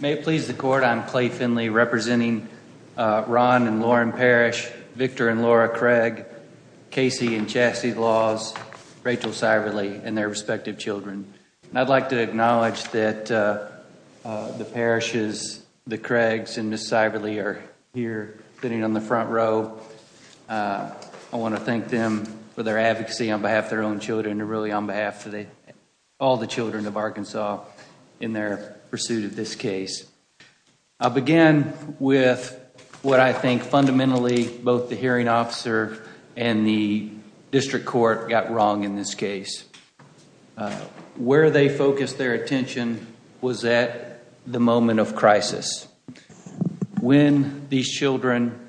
May it please the court, I'm Clay Finley representing Ron and Lauren Parrish, Victor and Laura Craig, Casey and Chassie Laws, Rachel Seiberle, and their respective children. I'd like to acknowledge that the Parrishes, the Craigs, and Ms. Seiberle are here sitting on the front row. I want to thank them for their advocacy on behalf of their own children and really on I'll begin with what I think fundamentally both the hearing officer and the district court got wrong in this case. Where they focused their attention was at the moment of crisis. When these children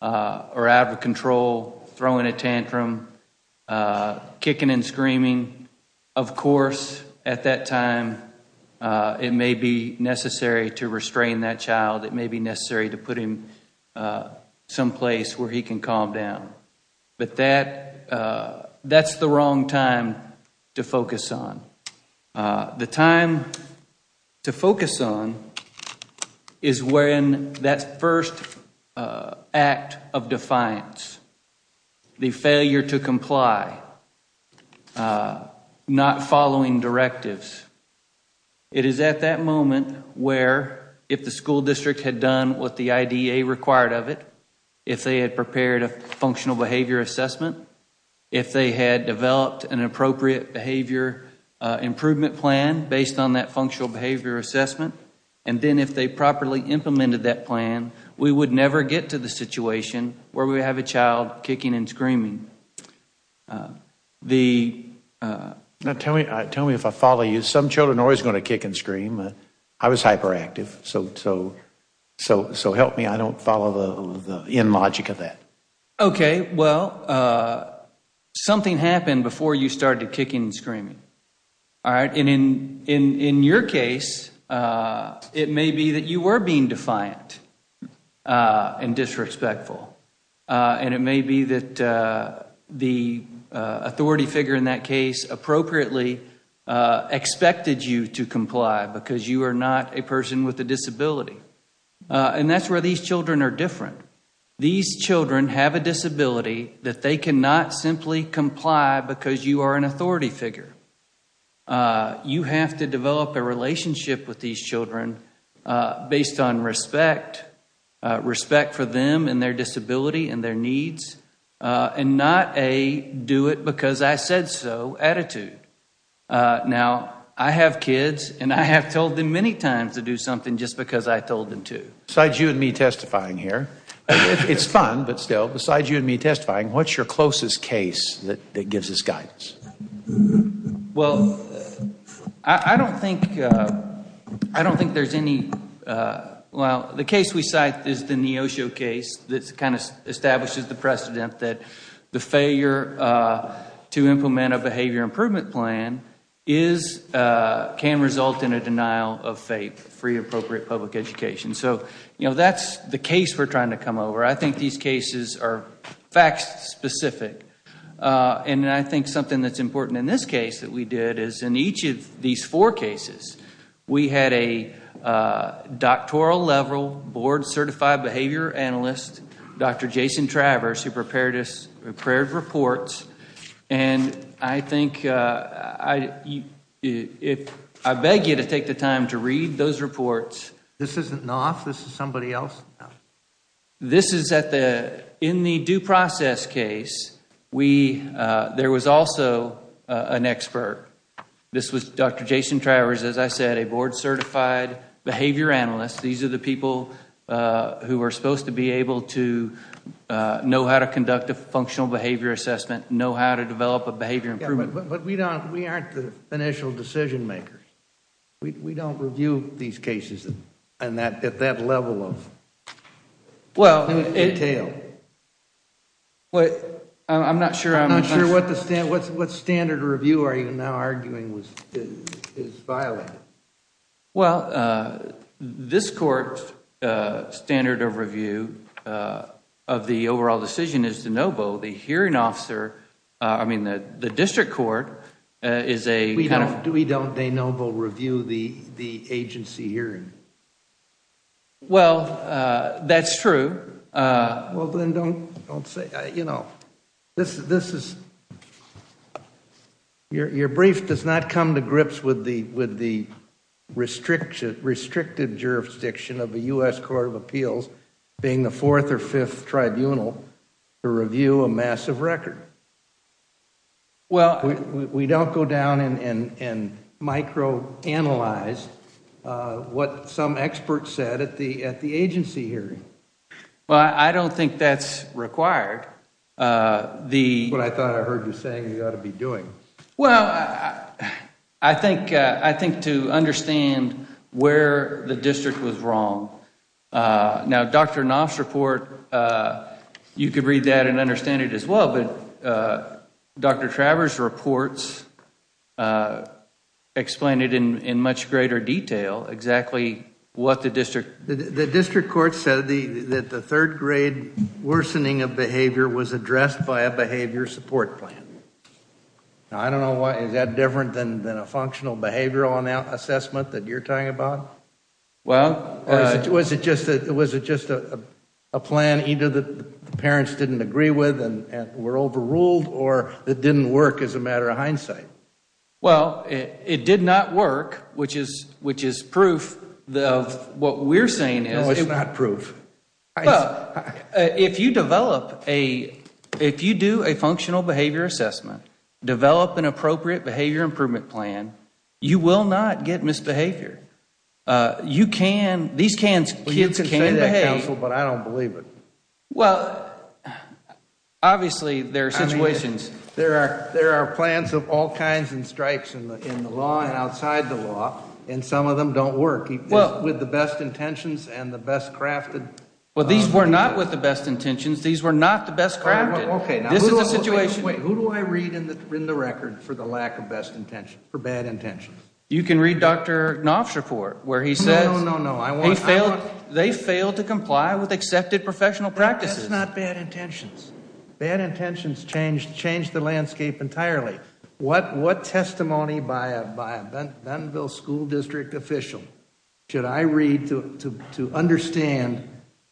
are out of control, throwing a tantrum, kicking and screaming, of course at that time it may be necessary to restrain that child. It may be necessary to put him someplace where he can calm down. But that's the wrong time to focus on. The time to focus on is when that first act of defiance, the failure to comply, not following directives. It is at that moment where if the school district had done what the IDA required of it, if they had prepared a functional behavior assessment, if they had developed an appropriate behavior improvement plan based on that functional behavior assessment, and then if they properly implemented that plan, we would never get to the situation where we have a child kicking and screaming. Tell me if I follow you. Some children are always going to kick and scream. I was hyperactive. So help me. I don't follow the logic of that. Okay. Well, something happened before you started kicking and screaming. In your case, it may be that you were being defiant and disrespectful. It may be that the authority figure in that case appropriately expected you to comply because you are not a person with a disability. And that's where these children are different. These children have a disability that they cannot simply comply because you are an authority figure. You have to develop a relationship with these children based on respect, respect for them and their disability and their needs, and not a do it because I said so attitude. Now, I have kids, and I have told them many times to do something just because I told them to. Besides you and me testifying here, it's fun, but still, besides you and me testifying, what's your closest case that gives us guidance? Well, I don't think there's any, well, the case we cite is the Neosho case that kind of establishes the precedent that the failure to implement a behavior improvement plan can result in a denial of FAPE, free appropriate public education. So, you know, that's the case we're trying to come over. I think these cases are fact specific. And I think something that's important in this case that we did is in each of these four cases, we had a doctoral level board certified behavior analyst, Dr. Jason Travers, who prepared us, prepared reports. And I think, I beg you to take the time to read those reports. This isn't Knopf. This is somebody else. This is at the, in the due process case, we, there was also an expert. This was Dr. Jason Travers, as I said, a board certified behavior analyst. These are the people who are supposed to be able to know how to conduct a functional behavior assessment, know how to develop a behavior improvement. But we don't, we aren't the initial decision makers. We don't review these cases and that, at that level of detail. Well, I'm not sure. I'm not sure what the standard, what standard review are you now arguing is violated? Well, this court's standard of review of the overall decision is de novo. The hearing officer, I mean, the district court is a kind of. We don't de novo review the agency hearing. Well, that's true. Well, then don't, don't say, you know, this is, your brief does not come to grips with the restricted jurisdiction of the U.S. Court of Appeals being the fourth or fifth tribunal to review a massive record. Well, we don't go down and microanalyze what some experts said at the, at the agency hearing. Well, I don't think that's required. The. But I thought I heard you saying you got to be doing. Well, I think, I think to understand where the district was wrong. Now, Dr. Knopf's report, uh, you could read that and understand it as well, but, uh, Dr. Travers' reports, uh, explained it in, in much greater detail, exactly what the district. The district court said the, that the third grade worsening of behavior was addressed by a behavior support plan. Now, I don't know why, is that different than, than a functional behavioral assessment that you're talking about? Well, uh. Was it just a plan either that the parents didn't agree with and were overruled or it didn't work as a matter of hindsight? Well, it did not work, which is, which is proof of what we're saying is. No, it's not proof. Well, if you develop a, if you do a functional behavior assessment, develop an appropriate behavior improvement plan, you will not get misbehavior. Uh, you can, these can, kids can behave. Well, you can say that, counsel, but I don't believe it. Well, obviously, there are situations. There are, there are plans of all kinds and strikes in the, in the law and outside the law, and some of them don't work. Well. With the best intentions and the best crafted. Well, these were not with the best intentions. These were not the best crafted. Okay. This is a situation. Wait, who do I read in the, in the record for the lack of best intention, for bad intentions? You can read Dr. Knopf's report, where he says. No, no, no. He failed, they failed to comply with accepted professional practices. That's not bad intentions. Bad intentions change, change the landscape entirely. What, what testimony by a, by a Bentonville school district official should I read to, to, to understand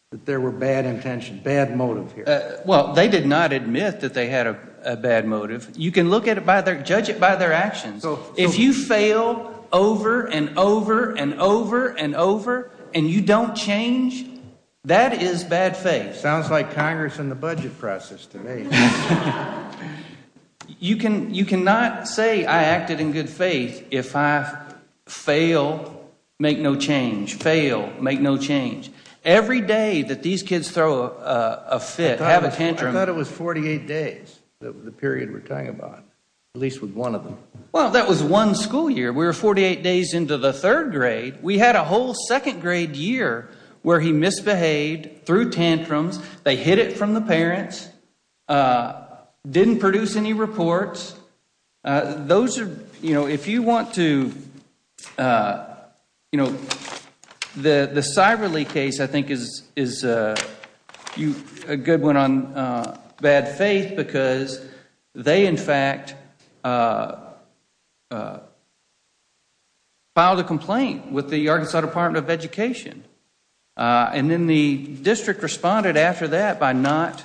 that there were bad intentions, bad motive here? Well, they did not admit that they had a bad motive. You can look at it by their, judge it by their actions. If you fail over and over and over and over and you don't change, that is bad faith. Sounds like Congress and the budget process to me. You can, you cannot say I acted in good faith if I fail, make no change, fail, make no change. Every day that these kids throw a fit, have a tantrum. I thought it was 48 days, the period we're talking about, at least with one of them. Well, that was one school year. We were 48 days into the third grade. We had a whole second grade year where he misbehaved, threw tantrums, they hid it from the parents, didn't produce any reports. Those are, you know, if you want to, you know, the, the Seiberle case I think is, is you, a good one on bad faith because they in fact filed a complaint with the Arkansas Department of Education and then the district responded after that by not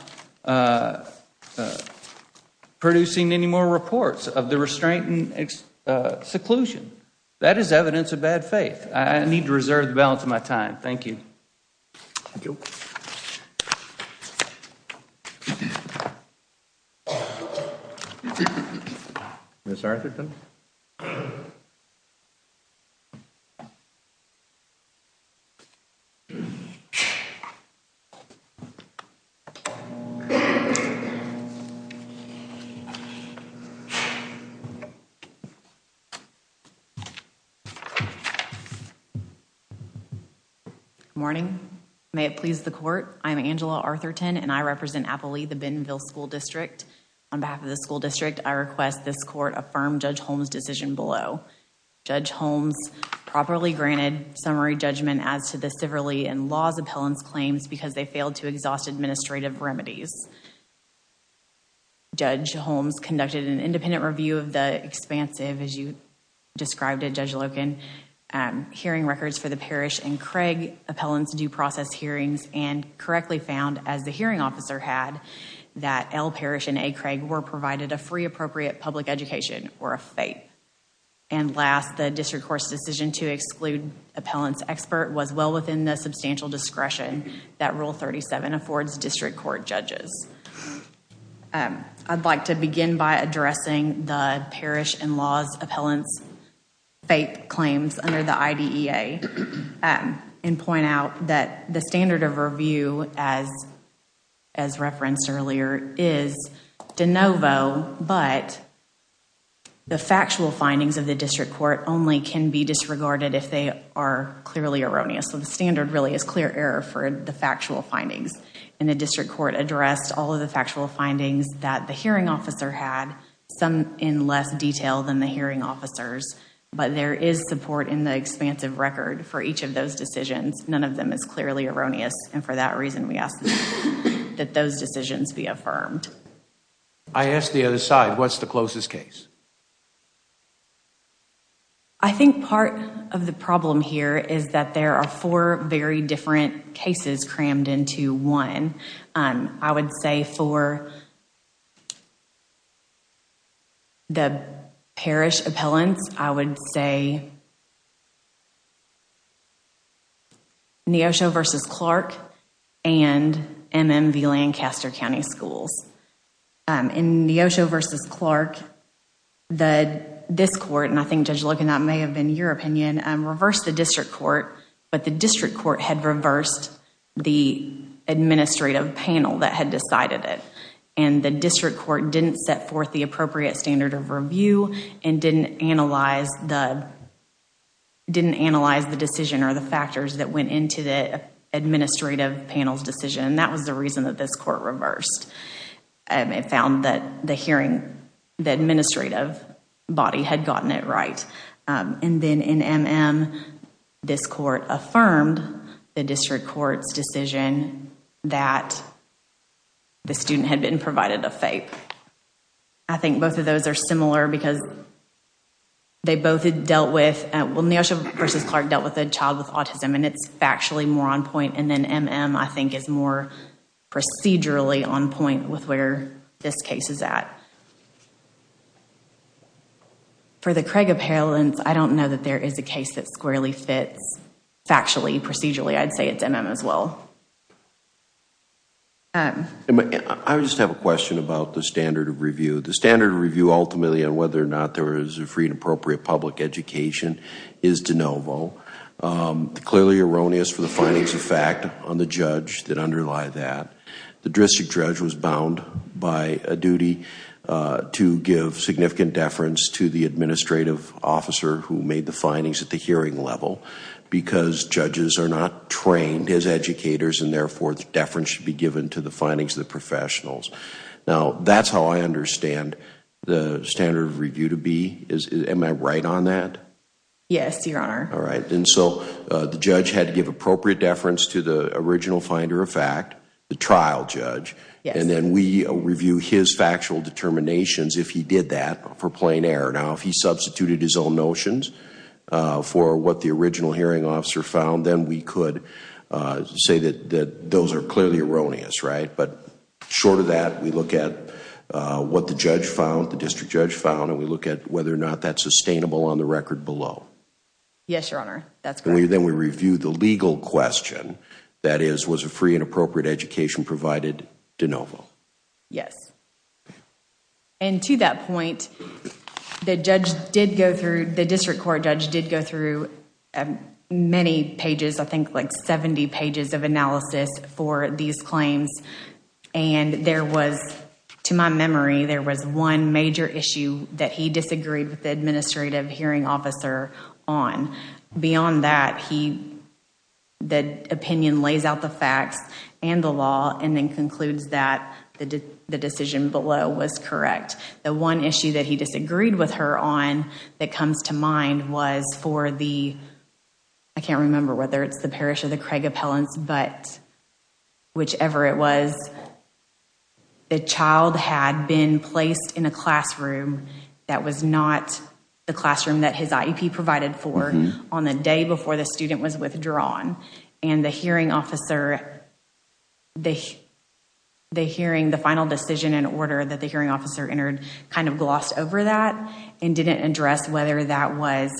producing any more reports of the restraint and seclusion. That is evidence of bad faith. I need to reserve the balance of my time. Thank you. Ms. Arthurton. Good morning. May it please the court. I'm Angela Arthurton and I represent Appalee, the Bentonville School District. On behalf of the school district, I request this court affirm Judge Holmes' decision below. Judge Holmes properly granted summary judgment as to the Seiberle and Laws Appellant's claims because they failed to exhaust administrative remedies. Judge Holmes conducted an independent review of the expansive, as you described it, Judge Loken, hearing records for the Parrish and Craig Appellant's due process hearings and correctly found, as the hearing officer had, that L. Parrish and A. Craig were provided a free appropriate public education or a FAPE. Last, the district court's decision to exclude Appellant's expert was well within the substantial discretion that Rule 37 affords district court judges. I'd like to begin by addressing the Parrish and Laws Appellant's FAPE claims under the IDEA Act and point out that the standard of review, as referenced earlier, is de novo, but the factual findings of the district court only can be disregarded if they are clearly erroneous. So the standard really is clear error for the factual findings and the district court addressed all of the factual findings that the hearing officer had, some in less detail than the hearing officers, but there is support in the expansive record for each of those decisions. None of them is clearly erroneous and for that reason we ask that those decisions be affirmed. I ask the other side, what's the closest case? I think part of the problem here is that there are four very different cases crammed into one. I would say for the Parrish Appellants, I would say Neosho versus Clark and MMV Lancaster County Schools. In Neosho versus Clark, this court, and I think Judge Logan that may have been your opinion, reversed the district court, but the district court had reversed the administrative panel that had decided it. The district court didn't set forth the appropriate standard of review and didn't analyze the decision or the factors that went into the administrative panel's decision. That was the reason that this court reversed. It found that the hearing, the administrative body had gotten it right. Then in MM, this court affirmed the district court's decision that the student had been provided a FAPE. I think both of those are similar because they both had dealt with, well, Neosho versus Clark dealt with a child with autism and it's factually more on point and then MM, I think, is more procedurally on point with where this case is at. For the Craig Appellants, I don't know that there is a case that squarely fits factually, procedurally. I'd say it's MM as well. I just have a question about the standard of review. The standard of review ultimately on whether or not there is a free and appropriate public education is de novo. Clearly erroneous for the findings of fact on the judge that underlie that. The district judge was bound by a duty to give significant deference to the administrative officer who made the findings at the hearing level because judges are not trained as educators and therefore deference should be given to the findings of the professionals. Now, that's how I understand the standard of review to be. Am I right on that? Yes, Your Honor. All right. The judge had to give appropriate deference to the original finder of fact. The trial judge. And then we review his factual determinations if he did that for plain air. Now, if he substituted his own notions for what the original hearing officer found, then we could say that those are clearly erroneous, right? But short of that, we look at what the judge found, the district judge found, and we look at whether or not that's sustainable on the record below. Yes, Your Honor. That's correct. That is, was a free and appropriate education provided de novo? Yes. And to that point, the judge did go through, the district court judge did go through many pages, I think like 70 pages of analysis for these claims. And there was, to my memory, there was one major issue that he disagreed with the administrative hearing officer on. Beyond that, he, the opinion lays out the facts and the law and then concludes that the decision below was correct. The one issue that he disagreed with her on that comes to mind was for the, I can't remember whether it's the parish or the Craig appellants, but whichever it was, the child had been placed in a classroom that was not the classroom that his IEP provided for on the day before the student was withdrawn. And the hearing officer, the hearing, the final decision in order that the hearing officer entered kind of glossed over that and didn't address whether that was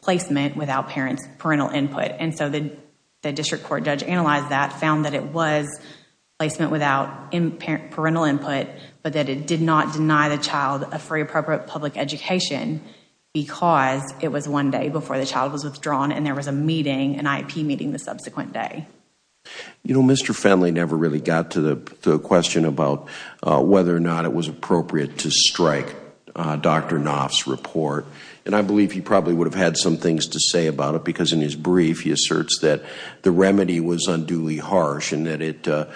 placement without parental input. And so the district court judge analyzed that, found that it was placement without parental input, but that it did not deny the child a free, appropriate public education because it was one day before the child was withdrawn and there was a meeting, an IEP meeting the subsequent day. You know, Mr. Fenley never really got to the question about whether or not it was appropriate to strike Dr. Knopf's report. And I believe he probably would have had some things to say about it because in his brief he asserts that the remedy was unduly made the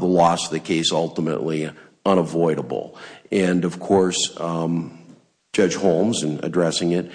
loss of the case ultimately unavoidable. And of course, Judge Holmes in addressing it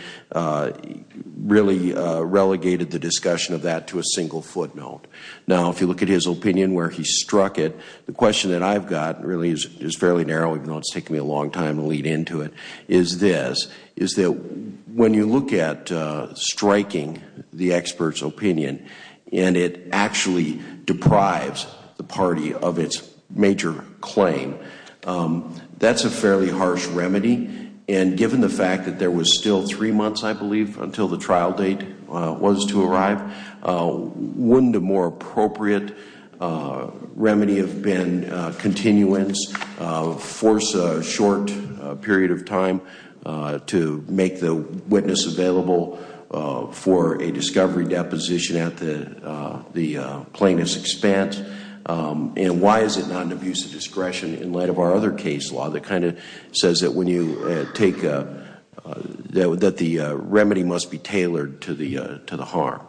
really relegated the discussion of that to a single footnote. Now, if you look at his opinion where he struck it, the question that I've got really is fairly narrow, even though it's taken me a long time to lead into it, is this, is that when you look at striking the expert's opinion and it actually deprives the party of its major claim, that's a fairly harsh remedy. And given the fact that there was still three months, I believe, until the trial date was to arrive, wouldn't a more appropriate remedy have been continuance, force a short period of time to make the witness available for a discovery deposition at the plaintiff's expense? And why is it not an abuse of discretion in light of our other case law that kind of says that when you take, that the remedy must be tailored to the harm?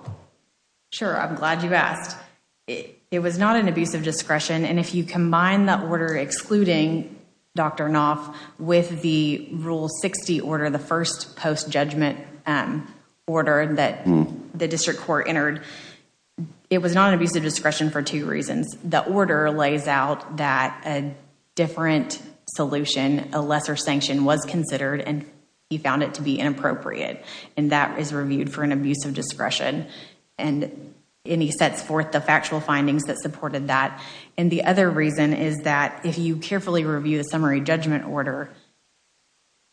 Sure. I'm glad you asked. It was not an abuse of discretion. And if you combine the order excluding Dr. Knopf with the Rule 60 order, the first post-judgment order that the district court entered, it was not an abuse of discretion for two reasons. The order lays out that a different solution, a lesser sanction was considered and he found it to be inappropriate. And that is reviewed for an abuse of discretion. And he sets forth the factual findings that carefully review the summary judgment order,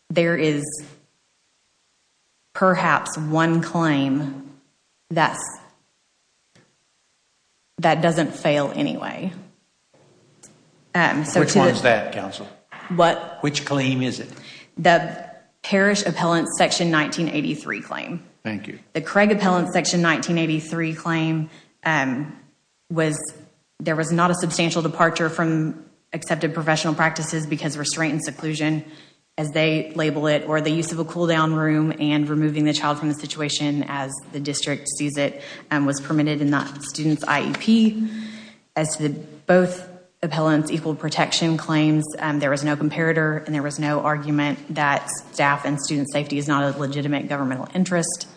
there is perhaps one claim that doesn't fail anyway. Which one is that, counsel? Which claim is it? The Parish Appellant Section 1983 claim. Thank you. The Craig Appellant Section 1983 claim was, there was not a substantial departure from accepted professional practices because restraint and seclusion, as they label it, or the use of a cool-down room and removing the child from the situation as the district sees it, was permitted in that student's IEP. As to both appellants' equal protection claims, there was no comparator and there was no argument that staff and student safety is not a legitimate governmental interest.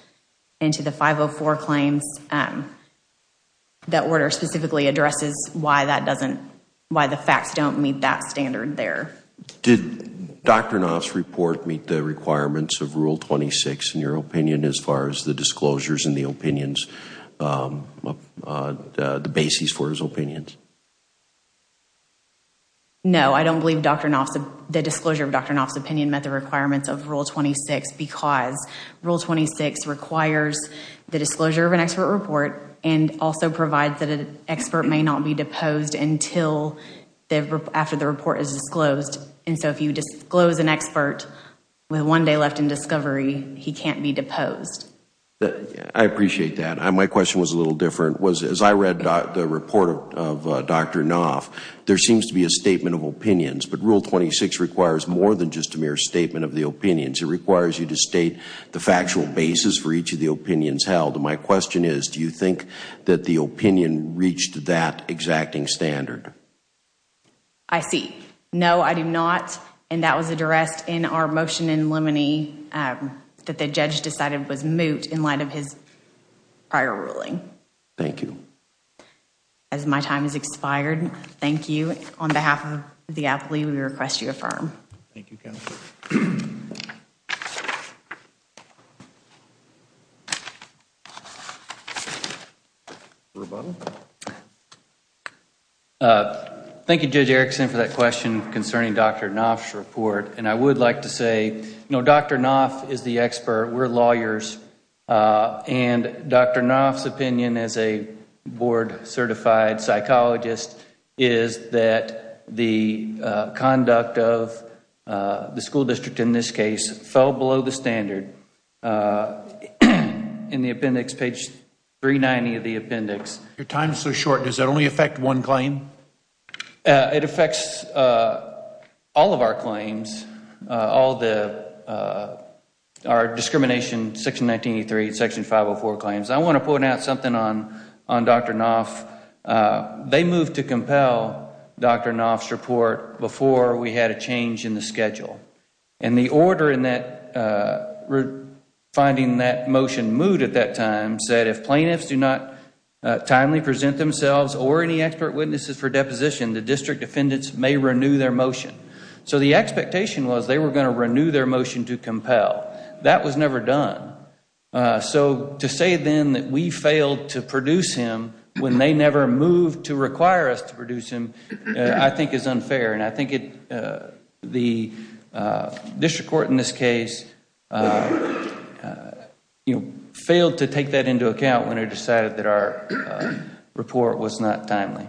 And to the 504 claims, that order specifically addresses why that doesn't, why the facts don't meet that standard there. Did Dr. Knopf's report meet the requirements of Rule 26 in your opinion as far as the disclosures and the opinions, the basis for his opinions? No, I don't believe Dr. Knopf's, the disclosure of Dr. Knopf's opinion met the requirements of Rule 26 requires the disclosure of an expert report and also provides that an expert may not be deposed until after the report is disclosed. And so if you disclose an expert with one day left in discovery, he can't be deposed. I appreciate that. My question was a little different. As I read the report of Dr. Knopf, there seems to be a statement of opinions, but Rule 26 requires more than just a mere statement of the opinions. It requires you to have a factual basis for each of the opinions held. My question is, do you think that the opinion reached that exacting standard? I see. No, I do not. And that was addressed in our motion in limine that the judge decided was moot in light of his prior ruling. Thank you. As my time has expired, thank you. On behalf of the appellee, we request you affirm. Thank you, counsel. Thank you, Judge Erickson, for that question concerning Dr. Knopf's report. And I would like to say, you know, Dr. Knopf is the expert. We're lawyers. And Dr. Knopf's opinion as a certified psychologist is that the conduct of the school district, in this case, fell below the standard. In the appendix, page 390 of the appendix. Your time is so short. Does that only affect one claim? It affects all of our claims, all the our discrimination, section 504 claims. I want to point out something on Dr. Knopf. They moved to compel Dr. Knopf's report before we had a change in the schedule. And the order in that finding that motion moved at that time said if plaintiffs do not timely present themselves or any expert witnesses for deposition, the district defendants may renew their motion. So the expectation was they were going to renew their motion to compel. That was never done. So to say then that we failed to produce him when they never moved to require us to produce him, I think is unfair. And I think the district court in this case, you know, failed to take that into account when it decided that our report was not timely.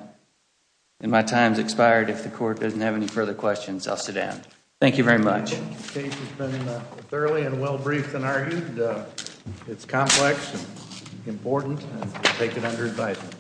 And my time's expired. If the court doesn't have any further questions, I'll sit down. Thank you very much. This case has been thoroughly and well briefed and argued. It's complex and important. I take it under advisement.